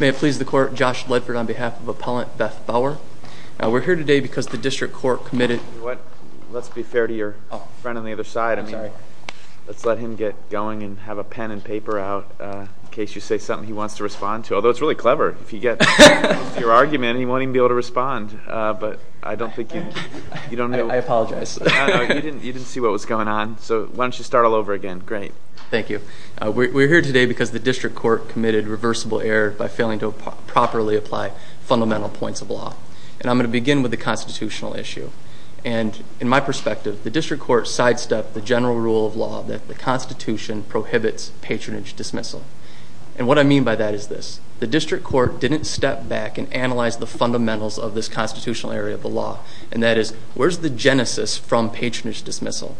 May it please the court, Josh Ledford on behalf of Appellant Beth Bauer. We're here today because the district court committed... Let's be fair to your friend on the other side. I'm sorry. Let's let him get going and have a pen and paper out in case you say something he wants to respond to, although it's really clever. If you get your argument, he won't even be able to respond, but I don't think you... I apologize. You didn't see what was going on, so why don't you start all over again? Great. Thank you. We're here today because the district court committed reversible error by failing to properly apply fundamental points of law, and I'm going to begin with the constitutional issue. And in my perspective, the district court sidestepped the general rule of the Constitution prohibits patronage dismissal. And what I mean by that is this. The district court didn't step back and analyze the fundamentals of this constitutional area of the law, and that is, where's the genesis from patronage dismissal?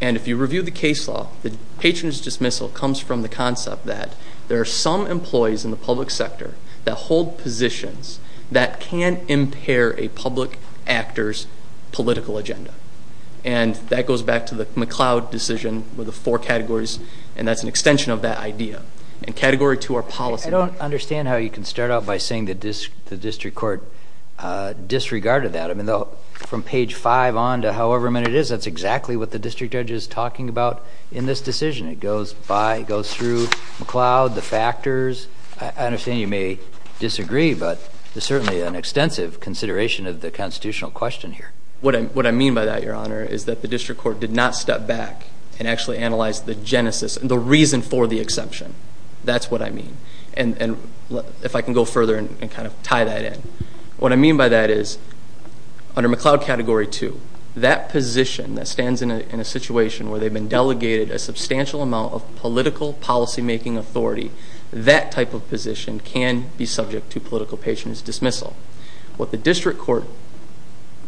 And if you review the case law, the patronage dismissal comes from the concept that there are some employees in the public sector that hold positions that can impair a public actor's political agenda. And that goes back to the McLeod decision with the four categories, and that's an extension of that idea. And category two, our policy. I don't understand how you can start out by saying that the district court disregarded that. I mean, though, from page five on to however many it is, that's exactly what the district judge is talking about in this decision. It goes by, it goes through McLeod, the factors. I understand you may disagree, but there's certainly an extensive consideration of the constitutional question here. What I mean by that, your honor, is that the district court did not step back and actually analyze the genesis and the reason for the exception. That's what I mean. And if I can go further and kind of tie that in. What I mean by that is, under McLeod category two, that position that stands in a situation where they've been delegated a substantial amount of political policymaking authority, that type of position can be subject to political patronage dismissal. What the district court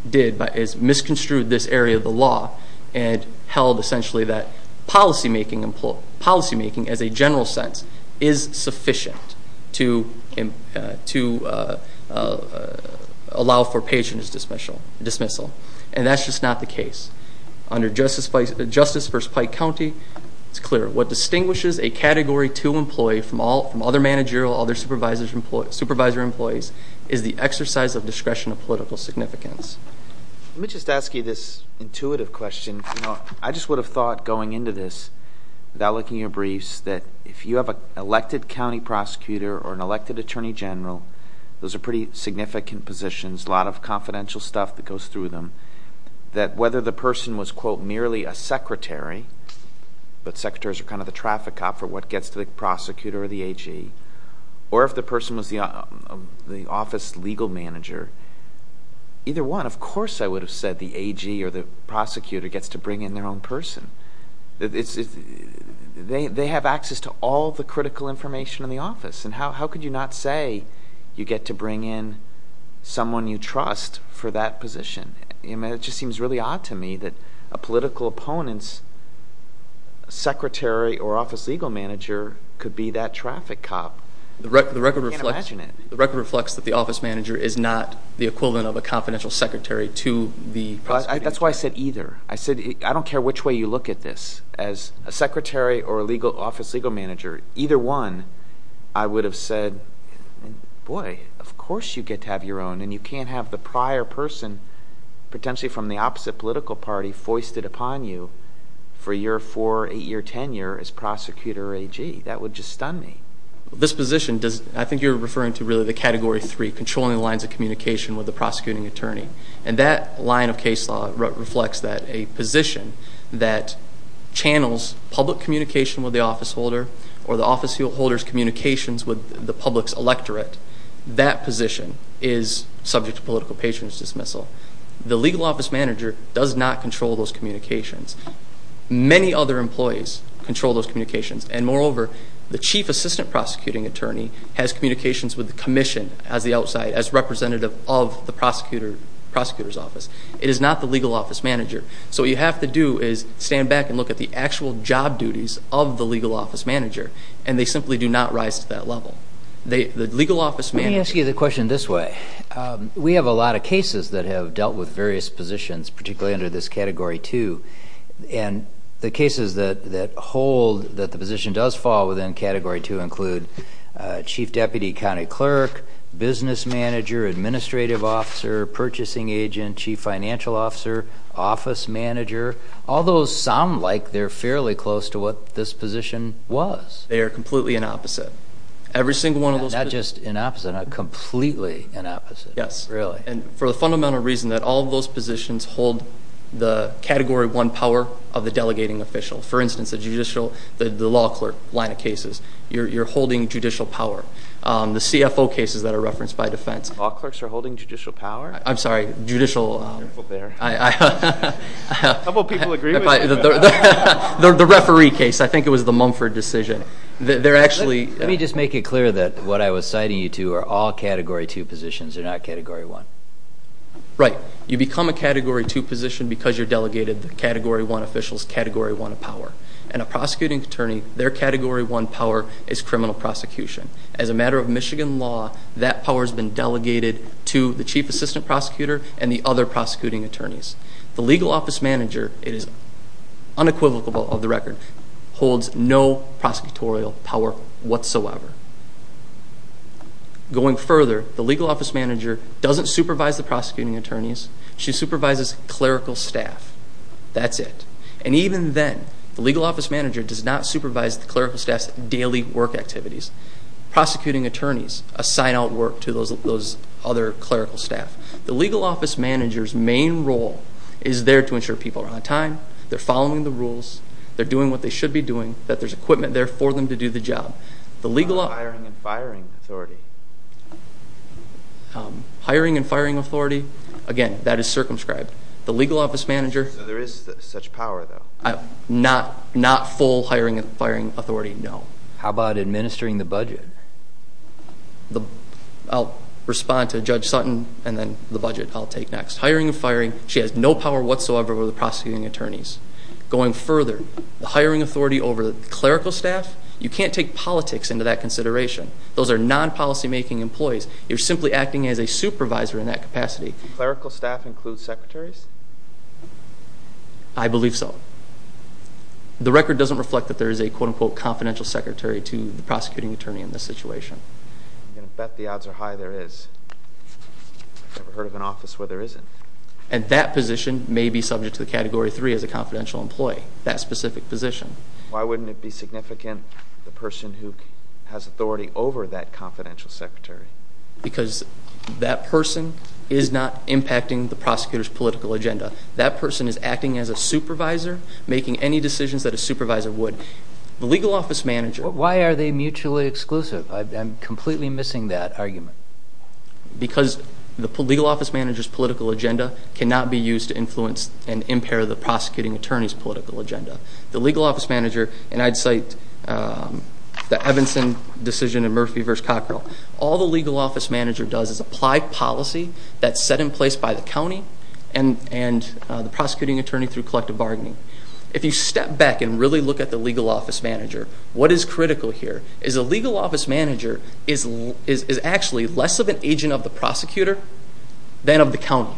did is misconstrued this area of the law and held essentially that policymaking as a general sense is sufficient to allow for patronage dismissal. And that's just not the case. Under Justice v. Pike County, it's clear what distinguishes a category two employee from other managerial, other supervisor employees, is the exercise of discretion of political significance. Let me just ask you this intuitive question. I just would have thought going into this, without looking at your briefs, that if you have an elected county prosecutor or an elected attorney general, those are pretty significant positions, a lot of confidential stuff that goes through them, that whether the person was, quote, merely a secretary, but secretaries are kind of the traffic cop for what gets to the prosecutor or the AG, or if the person was the office legal manager, either one, of course I would have said the AG or the prosecutor gets to bring in their own person. They have access to all the critical information in the office, and how could you not say you get to bring in someone you trust for that position? It just seems really odd to me that a political opponent's secretary or office legal manager could be that traffic cop. I can't imagine it. The record reflects that the office manager is not the equivalent of a confidential secretary to the prosecutor. That's why I said either. I said I don't care which way you look at this. As a secretary or a legal office legal manager, either one, I would have said, boy, of course you get to have your own, and you can't have the prior person, potentially from the opposite political party, foisted upon you for your four, eight year tenure as prosecutor or AG. That would just stun me. This position, I think you're referring to really the category three, controlling the lines of communication with the prosecuting attorney, and that line of case law reflects that a position that channels public communication with the office holder or the office holder's communications with the public's electorate, that position is subject to political patronage dismissal. The legal office manager does not control those communications. Many other employees control those communications, and moreover, the chief assistant prosecuting attorney has communications with the commission as the outside, as representative of the prosecutor's office. It is not the legal office manager. So what you have to do is stand back and look at the actual job duties of the legal office manager, and they simply do not rise to that level. The legal office manager- Let me ask you the question this way. We have a lot of cases that have dealt with various positions, particularly under this category two, and the cases that hold that the position does fall within category two include chief deputy county clerk, business manager, administrative officer, purchasing agent, chief financial officer, office manager. All those sound like they're fairly close to what this position was. They are completely in opposite. Every single one of those- Not just in opposite, not completely in opposite. Yes. And for the fundamental reason that all of those positions hold the category one power of the delegating official. For instance, the judicial, the law clerk line of cases, you're holding judicial power. The CFO cases that are referenced by defense- Law clerks are holding judicial power? I'm sorry, judicial- A couple people agree with you. The referee case, I think it was the Mumford decision. They're actually- Let me just make it clear that what I was citing you to are all category two positions. They're not category one. Right. You become a category two position because you're delegated the category one officials, category one power. And a prosecuting attorney, their category one power is criminal prosecution. As a matter of Michigan law, that power has been delegated to the chief assistant prosecutor and the other prosecuting attorneys. The legal office manager, it is unequivocal of the record, holds no prosecutorial power whatsoever. Going further, the legal office manager doesn't supervise the prosecuting attorneys. She supervises clerical staff. That's it. And even then, the legal office manager does not supervise the clerical staff's daily work activities. Prosecuting attorneys assign out work to those other clerical staff. The legal office manager's main role is there to ensure people are on time, they're following the rules, they're doing what they should be doing, that there's equipment there for them to do the job. Hiring and firing authority. Hiring and firing authority, again, that is circumscribed. The legal office manager. There is such power though. Not full hiring and firing authority, no. How about administering the budget? I'll respond to Judge Sutton and then the budget I'll take next. Hiring and firing, she has no power whatsoever over the prosecuting attorneys. Going further, the hiring authority over the clerical staff, you can't take politics into that consideration. Those are non-policy making employees. You're simply acting as a supervisor in that capacity. Clerical staff includes secretaries? I believe so. The record doesn't reflect that there is a quote unquote confidential secretary to the prosecuting attorney in this situation. I'm going to bet the odds are high there is. I've never heard of an office where there isn't. And that position may be subject to significant the person who has authority over that confidential secretary. Because that person is not impacting the prosecutor's political agenda. That person is acting as a supervisor, making any decisions that a supervisor would. The legal office manager. Why are they mutually exclusive? I'm completely missing that argument. Because the legal office manager's political agenda cannot be used to influence and impair the prosecuting attorney's political agenda. The legal office manager, and I'd cite the Evanson decision in Murphy v. Cockrell. All the legal office manager does is apply policy that's set in place by the county and the prosecuting attorney through collective bargaining. If you step back and really look at the legal office manager, what is critical here is a legal office manager is actually less of an agent of the prosecutor than of the county.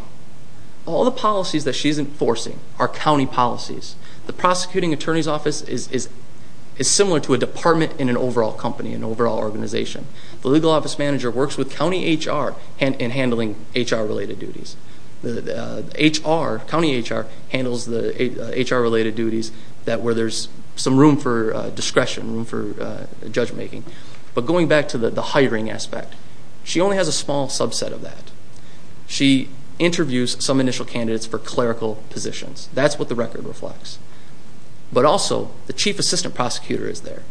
All the policies that she's enforcing are county policies. The prosecuting attorney's office is similar to a department in an overall company, an overall organization. The legal office manager works with county HR in handling HR related duties. County HR handles the HR related duties where there's some room for discretion, room for judge making. But going back to the hiring aspect, she only has a small subset of that. She interviews some initial candidates for clerical positions. That's what the record reflects. But also the chief assistant prosecutor is there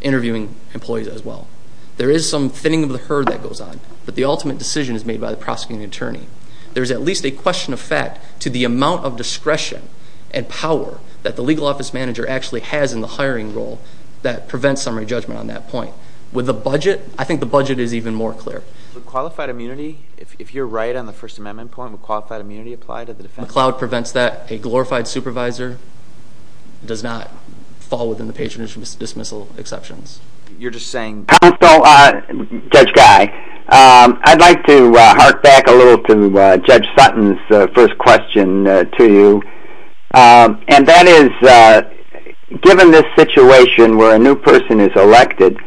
interviewing employees as well. There is some thinning of the herd that goes on, but the ultimate decision is made by the prosecuting attorney. There's at least a question of fact to the amount of discretion and power that the legal office manager actually has in the hiring role that prevents summary judgment on that point. With budget, I think the budget is even more clear. With qualified immunity, if you're right on the First Amendment point, would qualified immunity apply to the defense? McCloud prevents that. A glorified supervisor does not fall within the patronage dismissal exceptions. You're just saying Judge Guy, I'd like to hark back a little to Judge Sutton's first question to you. And that is, given this situation where a new person is elected,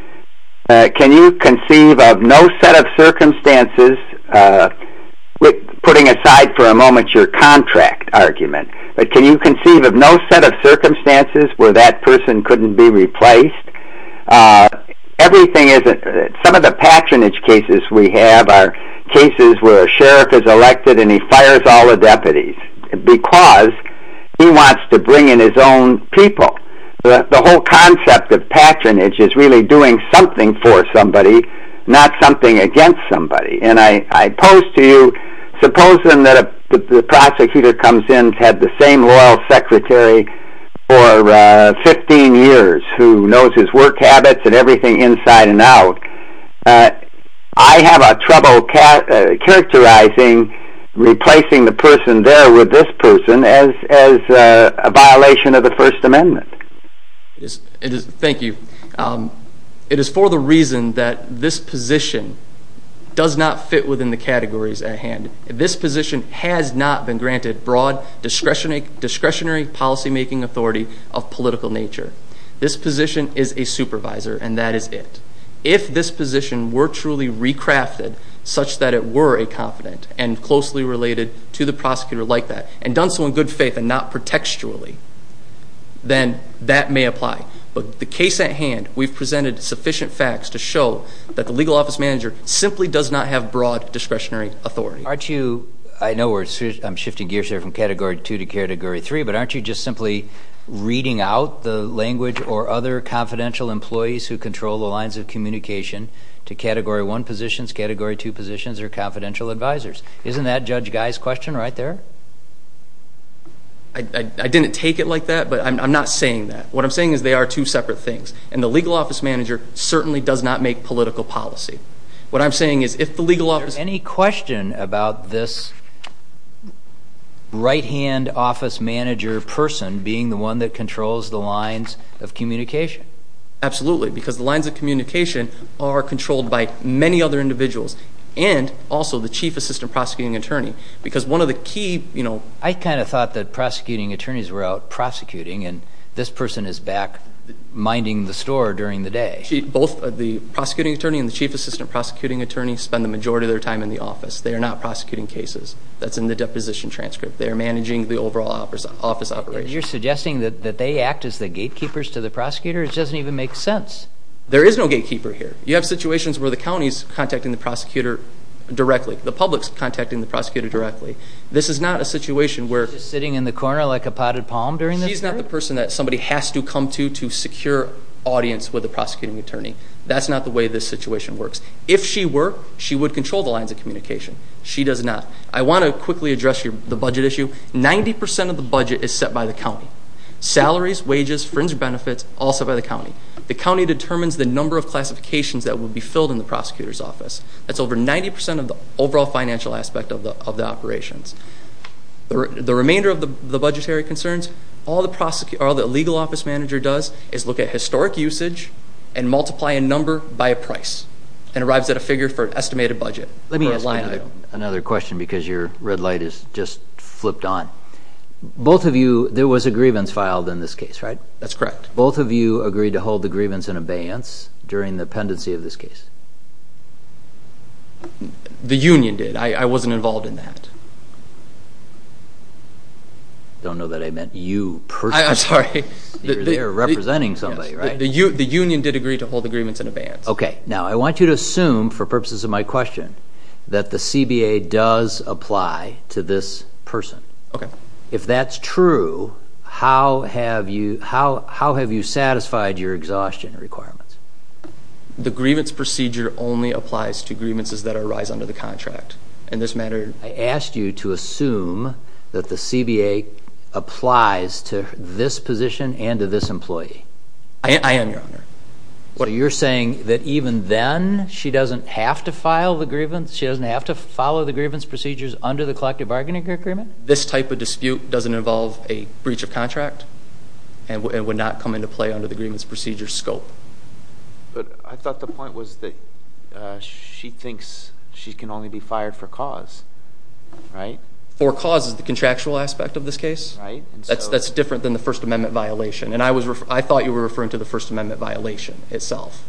can you conceive of no set of circumstances, putting aside for a moment your contract argument, but can you conceive of no set of circumstances where that person couldn't be replaced? Some of the patronage cases we have are sheriff is elected and he fires all the deputies because he wants to bring in his own people. The whole concept of patronage is really doing something for somebody, not something against somebody. And I pose to you, supposing that the prosecutor comes in, had the same loyal secretary for 15 years, who knows his work habits and everything inside and out. But I have trouble characterizing replacing the person there with this person as a violation of the First Amendment. Thank you. It is for the reason that this position does not fit within the categories at hand. This position has not been granted broad discretionary policy-making authority of political nature. This position is a supervisor and that is it. If this position were truly recrafted such that it were a confident and closely related to the prosecutor like that, and done so in good faith and not pretextually, then that may apply. But the case at hand, we've presented sufficient facts to show that the legal office manager simply does not have broad discretionary authority. Aren't you, I know we're shifting gears here from category two to category three, but aren't you just simply reading out the language or other confidential employees who control the lines of communication to category one positions, category two positions, or confidential advisors? Isn't that Judge Guy's question right there? I didn't take it like that, but I'm not saying that. What I'm saying is they are two separate things. And the legal office manager certainly does not make political policy. What I'm saying is if the legal office... Any question about this right-hand office manager person being the one that controls the lines of communication? Absolutely, because the lines of communication are controlled by many other individuals and also the chief assistant prosecuting attorney. Because one of the key... I kind of thought that prosecuting attorneys were out prosecuting and this person is back minding the store during the day. Both the prosecuting attorney and the chief assistant prosecuting attorney spend the majority of their time in the office. They are not prosecuting cases. That's in the deposition transcript. They are managing the overall office operation. You're suggesting that they act as the gatekeepers to the prosecutor? It doesn't even make sense. There is no gatekeeper here. You have situations where the county's contacting the prosecutor directly. The public's contacting the prosecutor directly. This is not a situation where... Just sitting in the corner like a potted palm during this period? He's not the person that somebody has to come to to secure audience with a prosecuting attorney. That's not the way this situation works. If she were, she would control the lines of communication. She does not. I want to quickly address the budget issue. 90% of the budget is set by the county. Salaries, wages, friends or benefits, all set by the county. The county determines the number of classifications that will be filled in the prosecutor's office. That's over 90% of the overall financial aspect of the operations. The remainder of the budgetary concerns, all the legal office manager does is look at historic usage and multiply a number by a price and arrives at a figure for an estimated budget. Let me ask another question because your red light is just flipped on. Both of you, there was a grievance filed in this case, right? That's correct. Both of you agreed to hold the grievance in abeyance during the pendency of this case? The union did. I wasn't involved in that. I don't know that I meant you personally. I'm sorry. You were there representing somebody, right? The union did agree to hold the grievance in abeyance. Okay. Now, I want you to assume, for purposes of my question, that the CBA does apply to this person. Okay. If that's true, how have you satisfied your exhaustion requirements? The grievance procedure only applies to grievances that arise under the contract. In this matter, I asked you to assume that the CBA applies to this position and to this employee. I am, your honor. You're saying that even then she doesn't have to file the grievance? She doesn't have to follow the grievance procedures under the collective bargaining agreement? This type of dispute doesn't involve a breach of contract and would not come into play under the grievance procedure scope. But I thought the point was that she thinks she can only be fired for cause. For cause is the contractual aspect of this case. That's different than the First Amendment violation. And I thought you were referring to the First Amendment violation itself.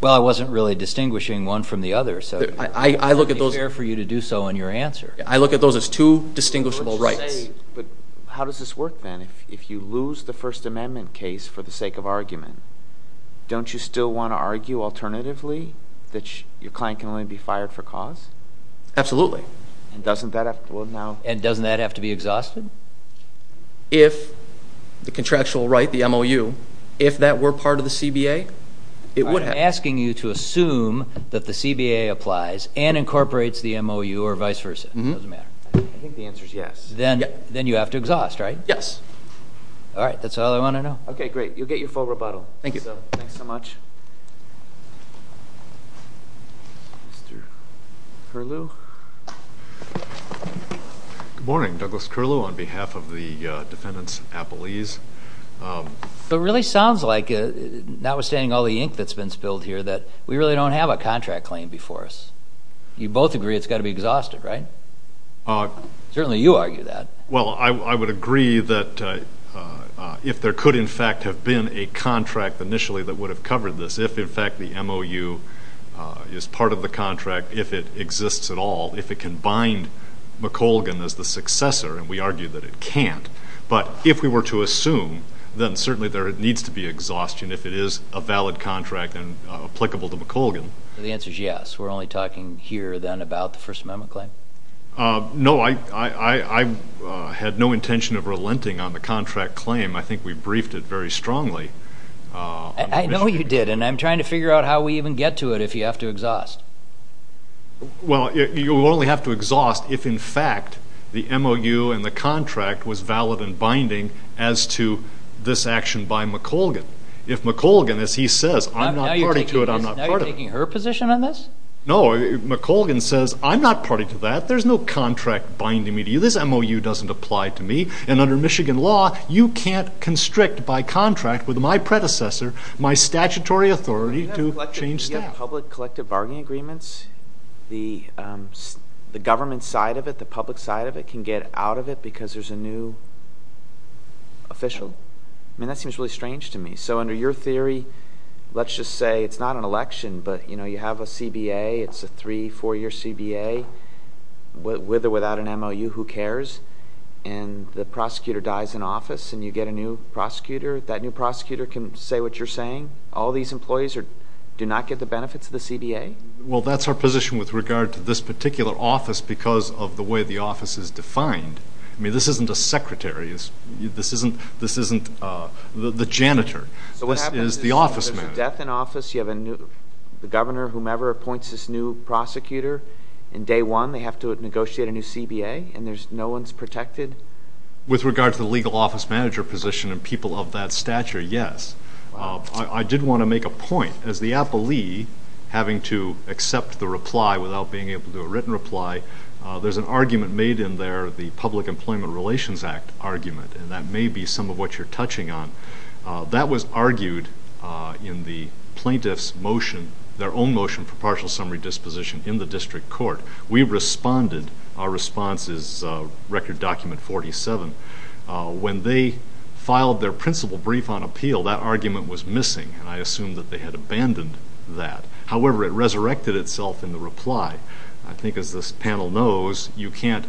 Well, I wasn't really distinguishing one from the other, so it would be fair for you to do so in your answer. I look at those as two distinguishable rights. But how does this work then? If you lose the First Amendment case for the sake of argument, don't you still want to argue alternatively that your client can only be fired for cause? Absolutely. And doesn't that have to be exhausted? If the contractual right, the MOU, if that were part of the CBA, it would happen. I'm asking you to assume that the CBA applies and incorporates the MOU or vice versa. I think the answer is yes. Then you have to exhaust, right? Yes. All right. That's all I want to know. Okay, great. You'll get your full rebuttal. Thank you. Thanks so much. Mr. Curlew? Good morning. Douglas Curlew on behalf of the defendants' appellees. It really sounds like, notwithstanding all the ink that's been spilled here, that we really don't have a contract claim before us. You both agree it's got to be exhausted, right? Certainly you argue that. Well, I would agree that if there could in fact have been a contract initially that would have covered this, if in fact the MOU is part of the contract, if it exists at all, if it can bind McColgan as the successor, and we argue that it can't. But if we were to assume, then certainly there needs to be exhaustion if it is a valid contract and applicable to McColgan. The answer is yes. We're only talking here then about the First Amendment claim? No, I had no intention of relenting on the contract claim. I think we briefed it very strongly. I know you did, and I'm trying to figure out how we even get to it if you have to exhaust. Well, you only have to exhaust if in fact the MOU and the contract was valid and binding as to this action by McColgan. If McColgan, as he says, I'm not party to it, I'm not part of it. Now you're taking her position on this? No, McColgan says I'm not party to that. There's no contract binding me to you. This MOU doesn't apply to me. And under Michigan law, you can't constrict by contract with my predecessor, my statutory authority to change staff. Public collective bargaining agreements, the government side of it, the public side of it, can get out of it because there's a new official. I mean, that seems really strange to me. So under your theory, let's just say it's not an election, but you have a CBA. It's a three, four-year CBA with or without an MOU, who cares? And the prosecutor dies in office and you get a new prosecutor. That new prosecutor can say what you're saying? All these employees do not get the benefits of the CBA? Well, that's our position with regard to this particular office because of the way the office is defined. I mean, this isn't a secretary. This isn't the janitor. So what happens if there's a death in office, you have a new governor, whomever appoints this new prosecutor, and day one they have to negotiate a new CBA and no one's protected? With regard to the legal office manager position and people of that stature, yes. I did want to make a point. As the appellee having to accept the reply without being able to do a written reply, there's an argument made in there, the Public Employment Relations Act argument, and that may be some of what you're touching on. That was argued in the plaintiff's motion, their own motion for partial summary disposition in the district court. We responded. Our response is Record Document 47. When they filed their principal brief on appeal, that argument was missing and I assume that they had abandoned that. However, it resurrected itself in the reply. I think as this panel knows, you can't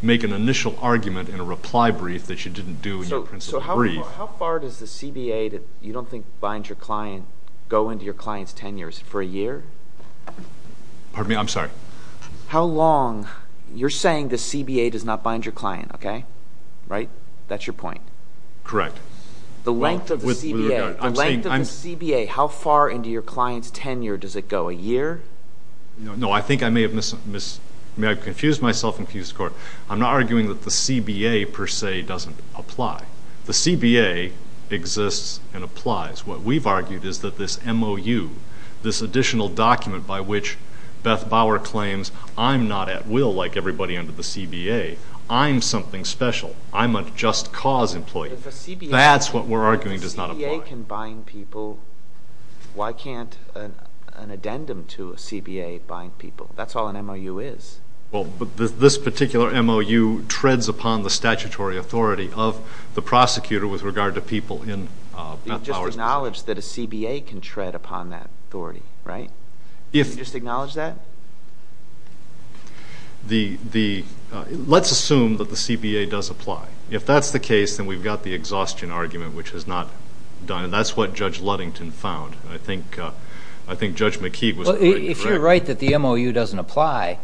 make an initial argument in a reply brief that you didn't do in your principal brief. So how far does the CBA, that you don't think binds your client, go into your client's tenure? Is it for a year? Pardon me? I'm sorry. How long? You're saying the CBA does not bind your client, okay? Right? That's your point. Correct. The length of the CBA, the length of the CBA, how far into your client's tenure does it go? A year? No, I think I may have confused myself and confused the court. I'm not arguing that the CBA exists and applies. What we've argued is that this MOU, this additional document by which Beth Bauer claims, I'm not at will like everybody under the CBA. I'm something special. I'm a just cause employee. That's what we're arguing does not apply. If a CBA can bind people, why can't an addendum to a CBA bind people? That's all an MOU is. Well, this particular MOU treads upon the statutory authority of the prosecutor with regard to people in Beth Bauer's case. You've just acknowledged that a CBA can tread upon that authority, right? You've just acknowledged that? Let's assume that the CBA does apply. If that's the case, then we've got the exhaustion argument, which has not done, and that's what Judge Ludington found. I think Judge McKee was correct. If you're right that the MOU doesn't apply,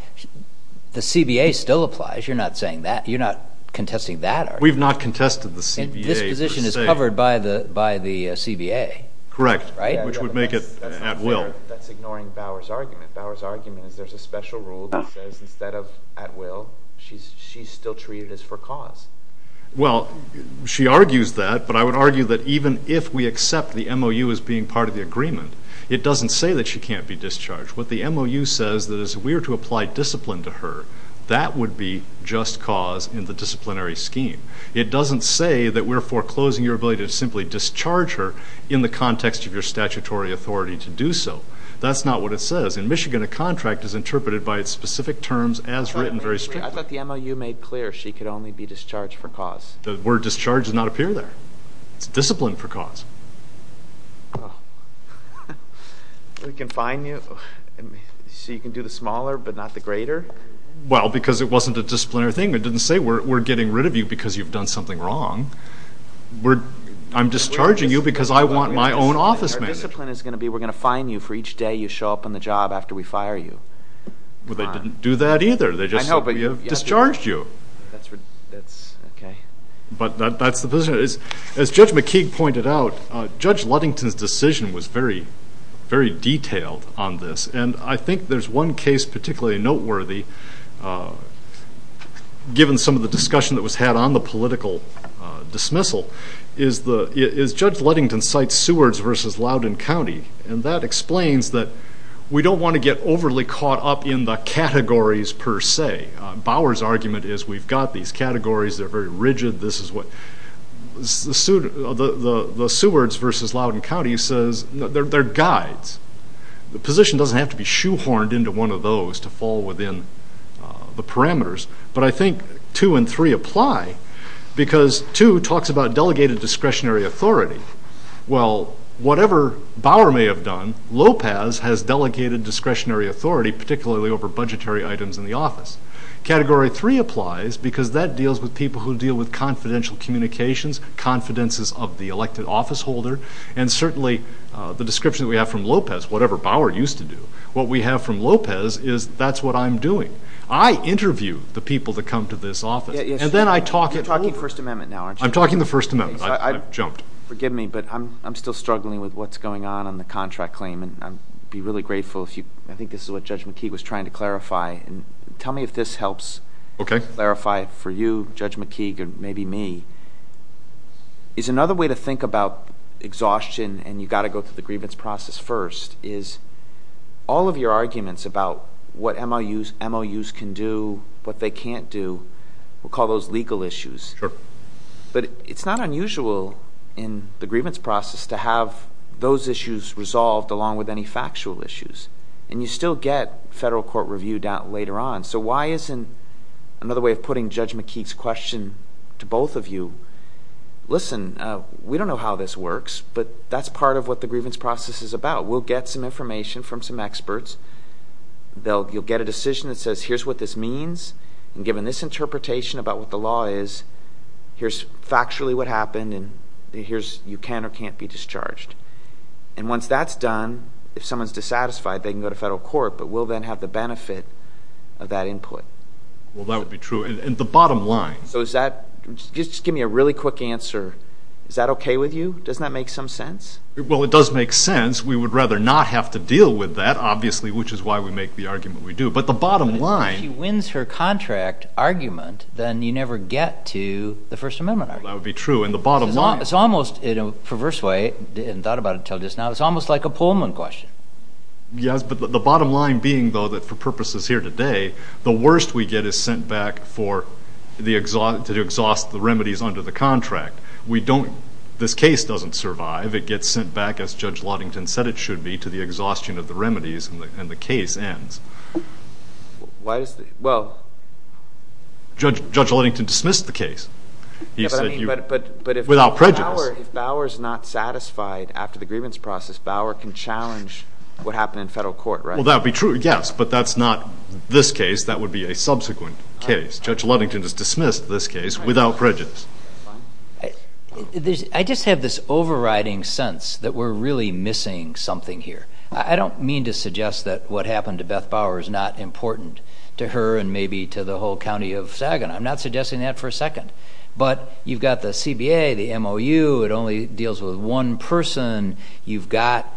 the CBA still applies. You're not contesting that argument. We've not contested the CBA. This position is covered by the CBA. Correct, which would make it at will. That's ignoring Bauer's argument. Bauer's argument is there's a special rule that says instead of at will, she's still treated as for cause. Well, she argues that, but I would argue that even if we accept the MOU as being part of the agreement, it doesn't say that she can't be discharged. What the MOU says is we are to apply discipline to her. That would be just cause in the disciplinary scheme. It doesn't say that we're foreclosing your ability to simply discharge her in the context of your statutory authority to do so. That's not what it says. In Michigan, a contract is interpreted by its specific terms as written very strictly. I thought the MOU made clear she could only be discharged for cause. The word discharge does not appear there. It's discipline for cause. We can fine you, so you can do the smaller but not the greater? Well, because it wasn't a disciplinary thing. It didn't say we're getting rid of you because you've done something wrong. I'm discharging you because I want my own office managed. Our discipline is going to be we're going to fine you for each day you show up on the job after we fire you. Well, they didn't do that either. They just said we have discharged you. That's okay. But that's the position. As Judge McKeague pointed out, Judge Ludington's decision was very, very detailed on this. And I think there's one case particularly noteworthy, given some of the discussion that was had on the political dismissal, is Judge Ludington cites Sewards versus Loudoun County. And that explains that we don't want to get overly caught up in the categories per se. Bower's argument is we've got these categories. They're very rigid. The Sewards versus Loudoun County says they're guides. The position doesn't have to be shoehorned into one of those to fall within the parameters. But I think two and three apply, because two talks about delegated discretionary authority. Well, whatever Bower may have done, Lopez has over budgetary items in the office. Category three applies, because that deals with people who deal with confidential communications, confidences of the elected officeholder, and certainly the description that we have from Lopez, whatever Bower used to do. What we have from Lopez is that's what I'm doing. I interview the people that come to this office. And then I talk it over. You're talking First Amendment now, aren't you? I'm talking the First Amendment. I've jumped. Forgive me, but I'm still struggling with what's going on on the contract claim, and I'd be really grateful if you... I think this is what Judge McKeague was trying to clarify. And tell me if this helps clarify for you, Judge McKeague, or maybe me. Is another way to think about exhaustion, and you've got to go through the grievance process first, is all of your arguments about what MOUs can do, what they can't do, we'll call those legal issues. But it's not unusual in the grievance process to have those issues resolved along with any factual issues. And you still get federal court review later on. So why isn't another way of putting Judge McKeague's question to both of you, listen, we don't know how this works, but that's part of what the grievance process is about. We'll get some information from some experts. You'll get a decision that says, here's what this means. And given this interpretation about what the law is, here's factually what happened, and you can or can't be discharged. And once that's done, if someone's dissatisfied, they can go to federal court, but we'll then have the benefit of that input. Well, that would be true. And the bottom line... So is that... Just give me a really quick answer. Is that okay with you? Does that make some sense? Well, it does make sense. We would rather not have to deal with that, obviously, which is why we make the argument we do. But the bottom line... If she wins her contract argument, then you never get to the First Amendment argument. That would be true. And the bottom line... It's almost, in a perverse way, and thought about it until just now, it's almost like a Pullman question. Yes, but the bottom line being, though, that for purposes here today, the worst we get is sent back to exhaust the remedies under the contract. This case doesn't survive. It gets sent back, as Judge Luddington said it should be, to the exhaustion of the remedies, and the case ends. Why does the... Well... Judge Luddington dismissed the case. He said, without prejudice... If Bauer's not satisfied after the grievance process, Bauer can challenge what happened in federal court, right? Well, that would be true, yes, but that's not this case. That would be a subsequent case. Judge Luddington has dismissed this case without prejudice. I just have this overriding sense that we're really missing something here. I don't mean to suggest that what happened to Beth Bauer is not important to her and maybe to the whole county of Saginaw. I'm not suggesting that for a second. But you've got the CBA, the MOU, it only deals with one person. You've got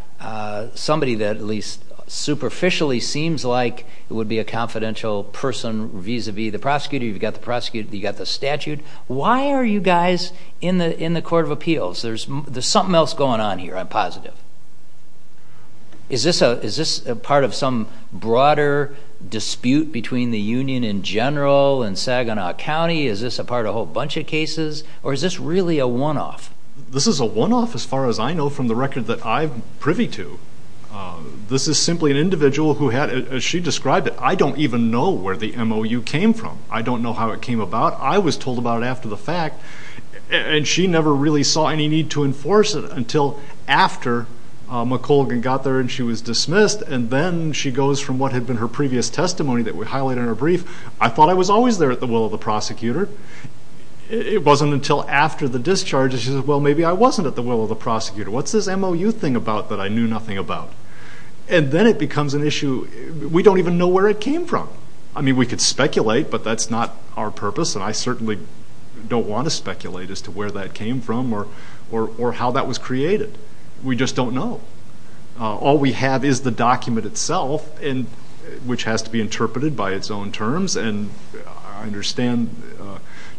somebody that, at least superficially, seems like it would be a confidential person vis a vis the prosecutor. You've got the prosecutor, you've got the statute. Why are you guys in the Court of Appeals? There's something else going on here, I'm positive. Is this a part of some broader dispute between the union in general and Saginaw County? Is this a part of a whole bunch of cases or is this really a one-off? This is a one-off as far as I know from the record that I'm privy to. This is simply an individual who had, as she described it, I don't even know where the MOU came from. I don't know how it came about. I was told about it after the fact and she never really saw any need to enforce it until after McColgan got there and she was dismissed. And then she goes from what had been her previous testimony that we highlighted in I thought I was always there at the will of the prosecutor. It wasn't until after the discharge that she said, well, maybe I wasn't at the will of the prosecutor. What's this MOU thing about that I knew nothing about? And then it becomes an issue, we don't even know where it came from. I mean, we could speculate but that's not our purpose and I certainly don't want to speculate as to where that came from or how that was created. We just don't know. All we have is the document itself and which has to be interpreted by its own terms and I understand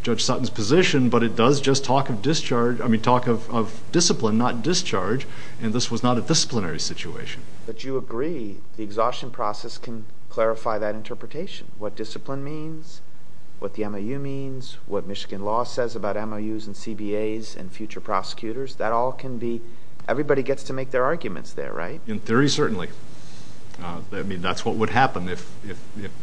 Judge Sutton's position but it does just talk of discharge, I mean talk of discipline not discharge and this was not a disciplinary situation. But you agree the exhaustion process can clarify that interpretation. What discipline means, what the MOU means, what Michigan law says about MOUs and CBAs and future prosecutors, that all can be, everybody gets to make their arguments there, right? In theory, certainly. I mean, that's what would happen if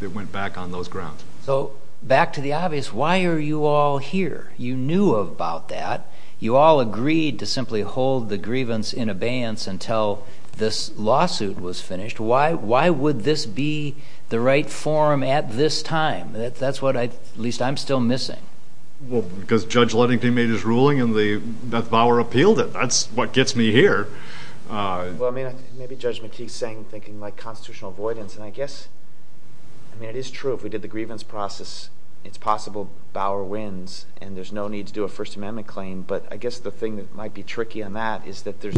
it went back on those grounds. So back to the obvious, why are you all here? You knew about that. You all agreed to simply hold the grievance in abeyance until this lawsuit was finished. Why would this be the right form at this time? That's what I, at least I'm still missing. Well, because Judge Ludington made his ruling and Beth Bauer appealed it. That's what gets me here. Well, I mean, maybe Judge McKee's saying, thinking like constitutional avoidance and I guess, I mean it is true if we did the grievance process, it's possible Bauer wins and there's no need to do a First Amendment claim but I guess the thing that might be tricky on that is that there's,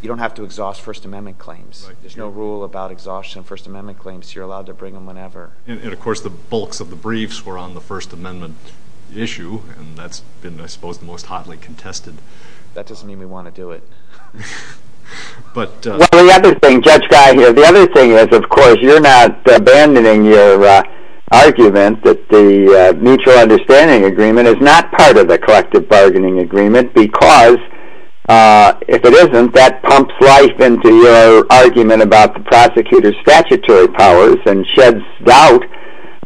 you don't have to exhaust First Amendment claims. There's no rule about exhaustion First Amendment claims. You're allowed to bring them whenever. And of course the bulks of the briefs were on First Amendment issue and that's been, I suppose, the most hotly contested. That doesn't mean we want to do it. But the other thing, Judge Guy here, the other thing is, of course, you're not abandoning your argument that the mutual understanding agreement is not part of the collective bargaining agreement because if it isn't, that pumps life into your argument about the prosecutor's statutory powers and sheds doubt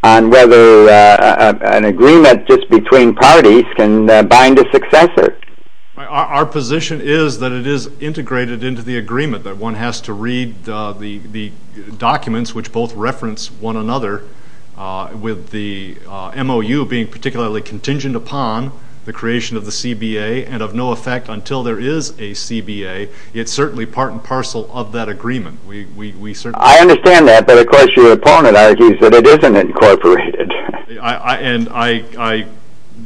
on whether an agreement just between parties can bind a successor. Our position is that it is integrated into the agreement that one has to read the documents which both reference one another with the MOU being particularly contingent upon the creation of the CBA and of no effect until there is a CBA. It's certainly part and parcel of that agreement. I understand that, but of course your opponent argues that it isn't incorporated. And I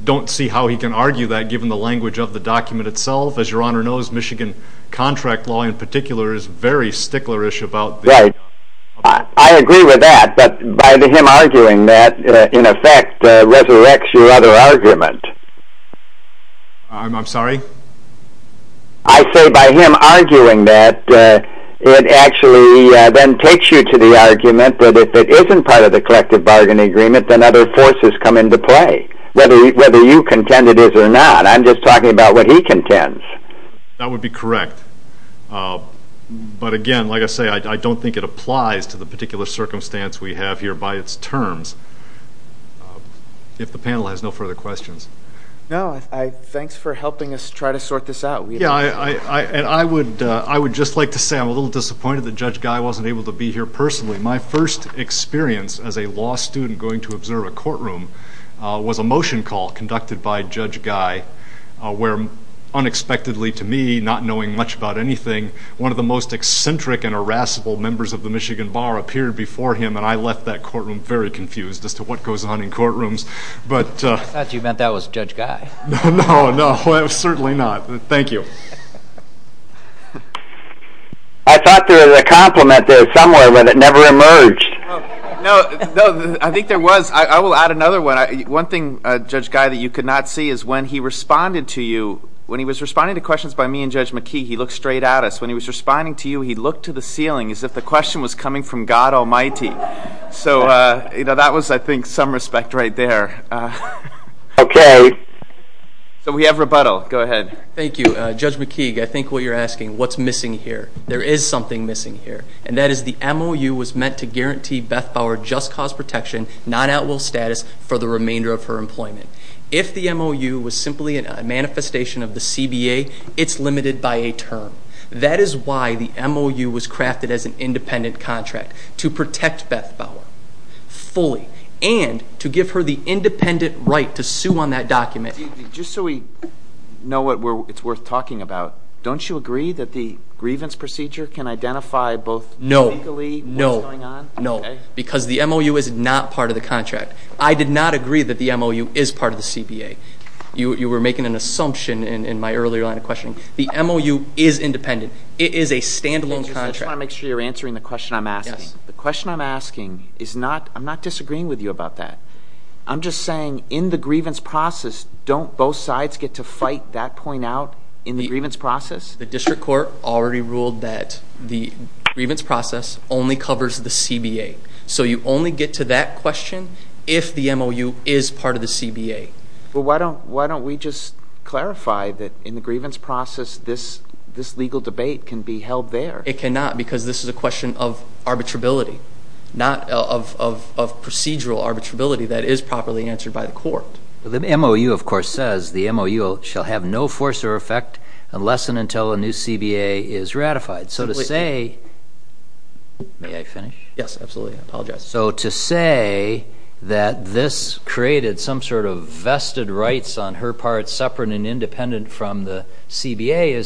don't see how he can argue that given the language of the document itself. As your honor knows, Michigan contract law in particular is very sticklerish about the... Right. I agree with that, but by him arguing that, in effect, resurrects your other argument. I'm sorry? I say by him arguing that, it actually then takes you to the argument that if it isn't part of the collective bargaining agreement, then other forces come into play. Whether you contend it is or not, I'm just talking about what he contends. That would be correct. But again, like I say, I don't think it applies to the particular circumstance we have here by its terms. If the panel has no further questions. No. Thanks for helping us try to sort this out. And I would just like to say I'm a little disappointed that Judge Guy wasn't able to be here personally. My first experience as a law student going to observe a courtroom was a motion call conducted by Judge Guy, where unexpectedly to me, not knowing much about anything, one of the most eccentric and irascible members of the Michigan Bar appeared before him, and I left that courtroom very confused as to what goes on in courtrooms. I thought you meant that was Judge Guy. No, no, certainly not. Thank you. I thought there was a compliment there somewhere, but it never emerged. No, I think there was. I will add another one. One thing, Judge Guy, that you could not see is when he responded to you, when he was responding to questions by me and Judge McKee, he looked straight at us. When he was responding to you, he looked to the ceiling as if the question was there. Okay. So we have rebuttal. Go ahead. Thank you. Judge McKee, I think what you're asking, what's missing here? There is something missing here, and that is the MOU was meant to guarantee Beth Bauer just cause protection, not at will status for the remainder of her employment. If the MOU was simply a manifestation of the CBA, it's limited by a term. That is why the MOU was crafted as an independent contract, to protect Beth Bauer fully and to give her the independent right to sue on that document. Just so we know what it's worth talking about, don't you agree that the grievance procedure can identify both legally what's going on? No, no, no, because the MOU is not part of the contract. I did not agree that the MOU is part of the CBA. You were making an assumption in my earlier line of questioning. The MOU is independent. It is a standalone contract. I just want to make sure you're answering the question I'm asking. The question I'm asking is not, I'm not disagreeing with you about that. I'm just saying in the grievance process, don't both sides get to fight that point out in the grievance process? The district court already ruled that the grievance process only covers the CBA. So you only get to that question if the MOU is part of the CBA. Well, why don't we just clarify that the grievance process, this legal debate can be held there? It cannot because this is a question of arbitrability, not of procedural arbitrability that is properly answered by the court. The MOU, of course, says the MOU shall have no force or effect unless and until a new CBA is ratified. So to say, may I finish? Yes, absolutely. I apologize. So to say that this is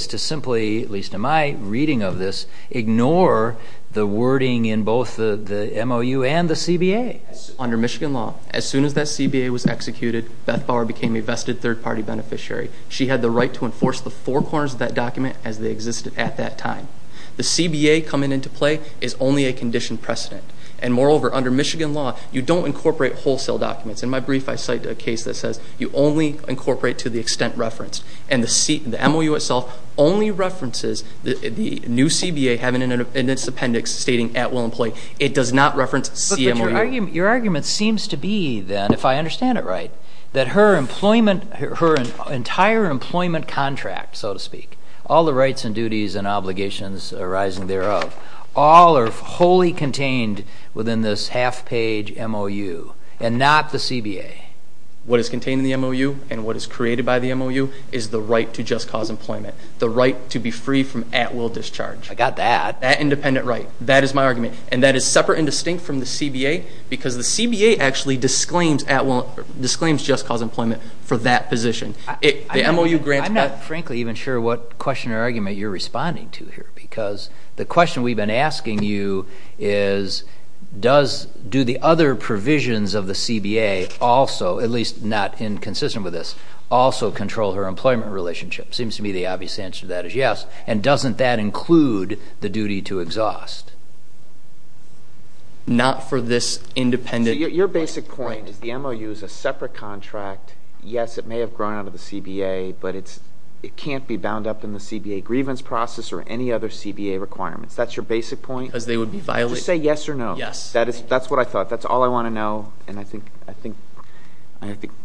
to simply, at least in my reading of this, ignore the wording in both the MOU and the CBA. Under Michigan law, as soon as that CBA was executed, Beth Bauer became a vested third-party beneficiary. She had the right to enforce the four corners of that document as they existed at that time. The CBA coming into play is only a conditioned precedent. And moreover, under Michigan law, you don't incorporate wholesale documents. In my brief, I cite a that says you only incorporate to the extent referenced. And the MOU itself only references the new CBA having an appendix stating at will employee. It does not reference CMOU. Your argument seems to be then, if I understand it right, that her entire employment contract, so to speak, all the rights and duties and obligations arising thereof, all are wholly what is contained in the MOU and what is created by the MOU is the right to just cause employment, the right to be free from at will discharge. I got that. That independent right. That is my argument. And that is separate and distinct from the CBA because the CBA actually disclaims just cause employment for that position. The MOU grants that. I'm not frankly even sure what question or argument you're responding to here because the question we've been asking you is, does, do the other provisions of the CBA also, at least not inconsistent with this, also control her employment relationship? Seems to me the obvious answer to that is yes. And doesn't that include the duty to exhaust? Not for this independent... Your basic point is the MOU is a separate contract. Yes, it may have grown out of the CBA, but it can't be bound up in the CBA grievance process or any other CBA requirements. That's your basic point. Just say yes or no. Yes. That's what I thought. That's all I want to know. And I think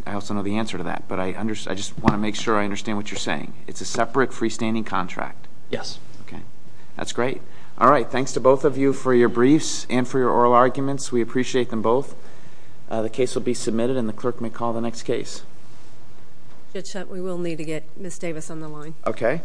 I also know the answer to that, but I just want to make sure I understand what you're saying. It's a separate freestanding contract. Yes. Okay. That's great. All right. Thanks to both of you for your briefs and for your oral arguments. We appreciate them both. The case will be submitted and the clerk may call the next case. We will need to get Ms. Davis on the line. Okay.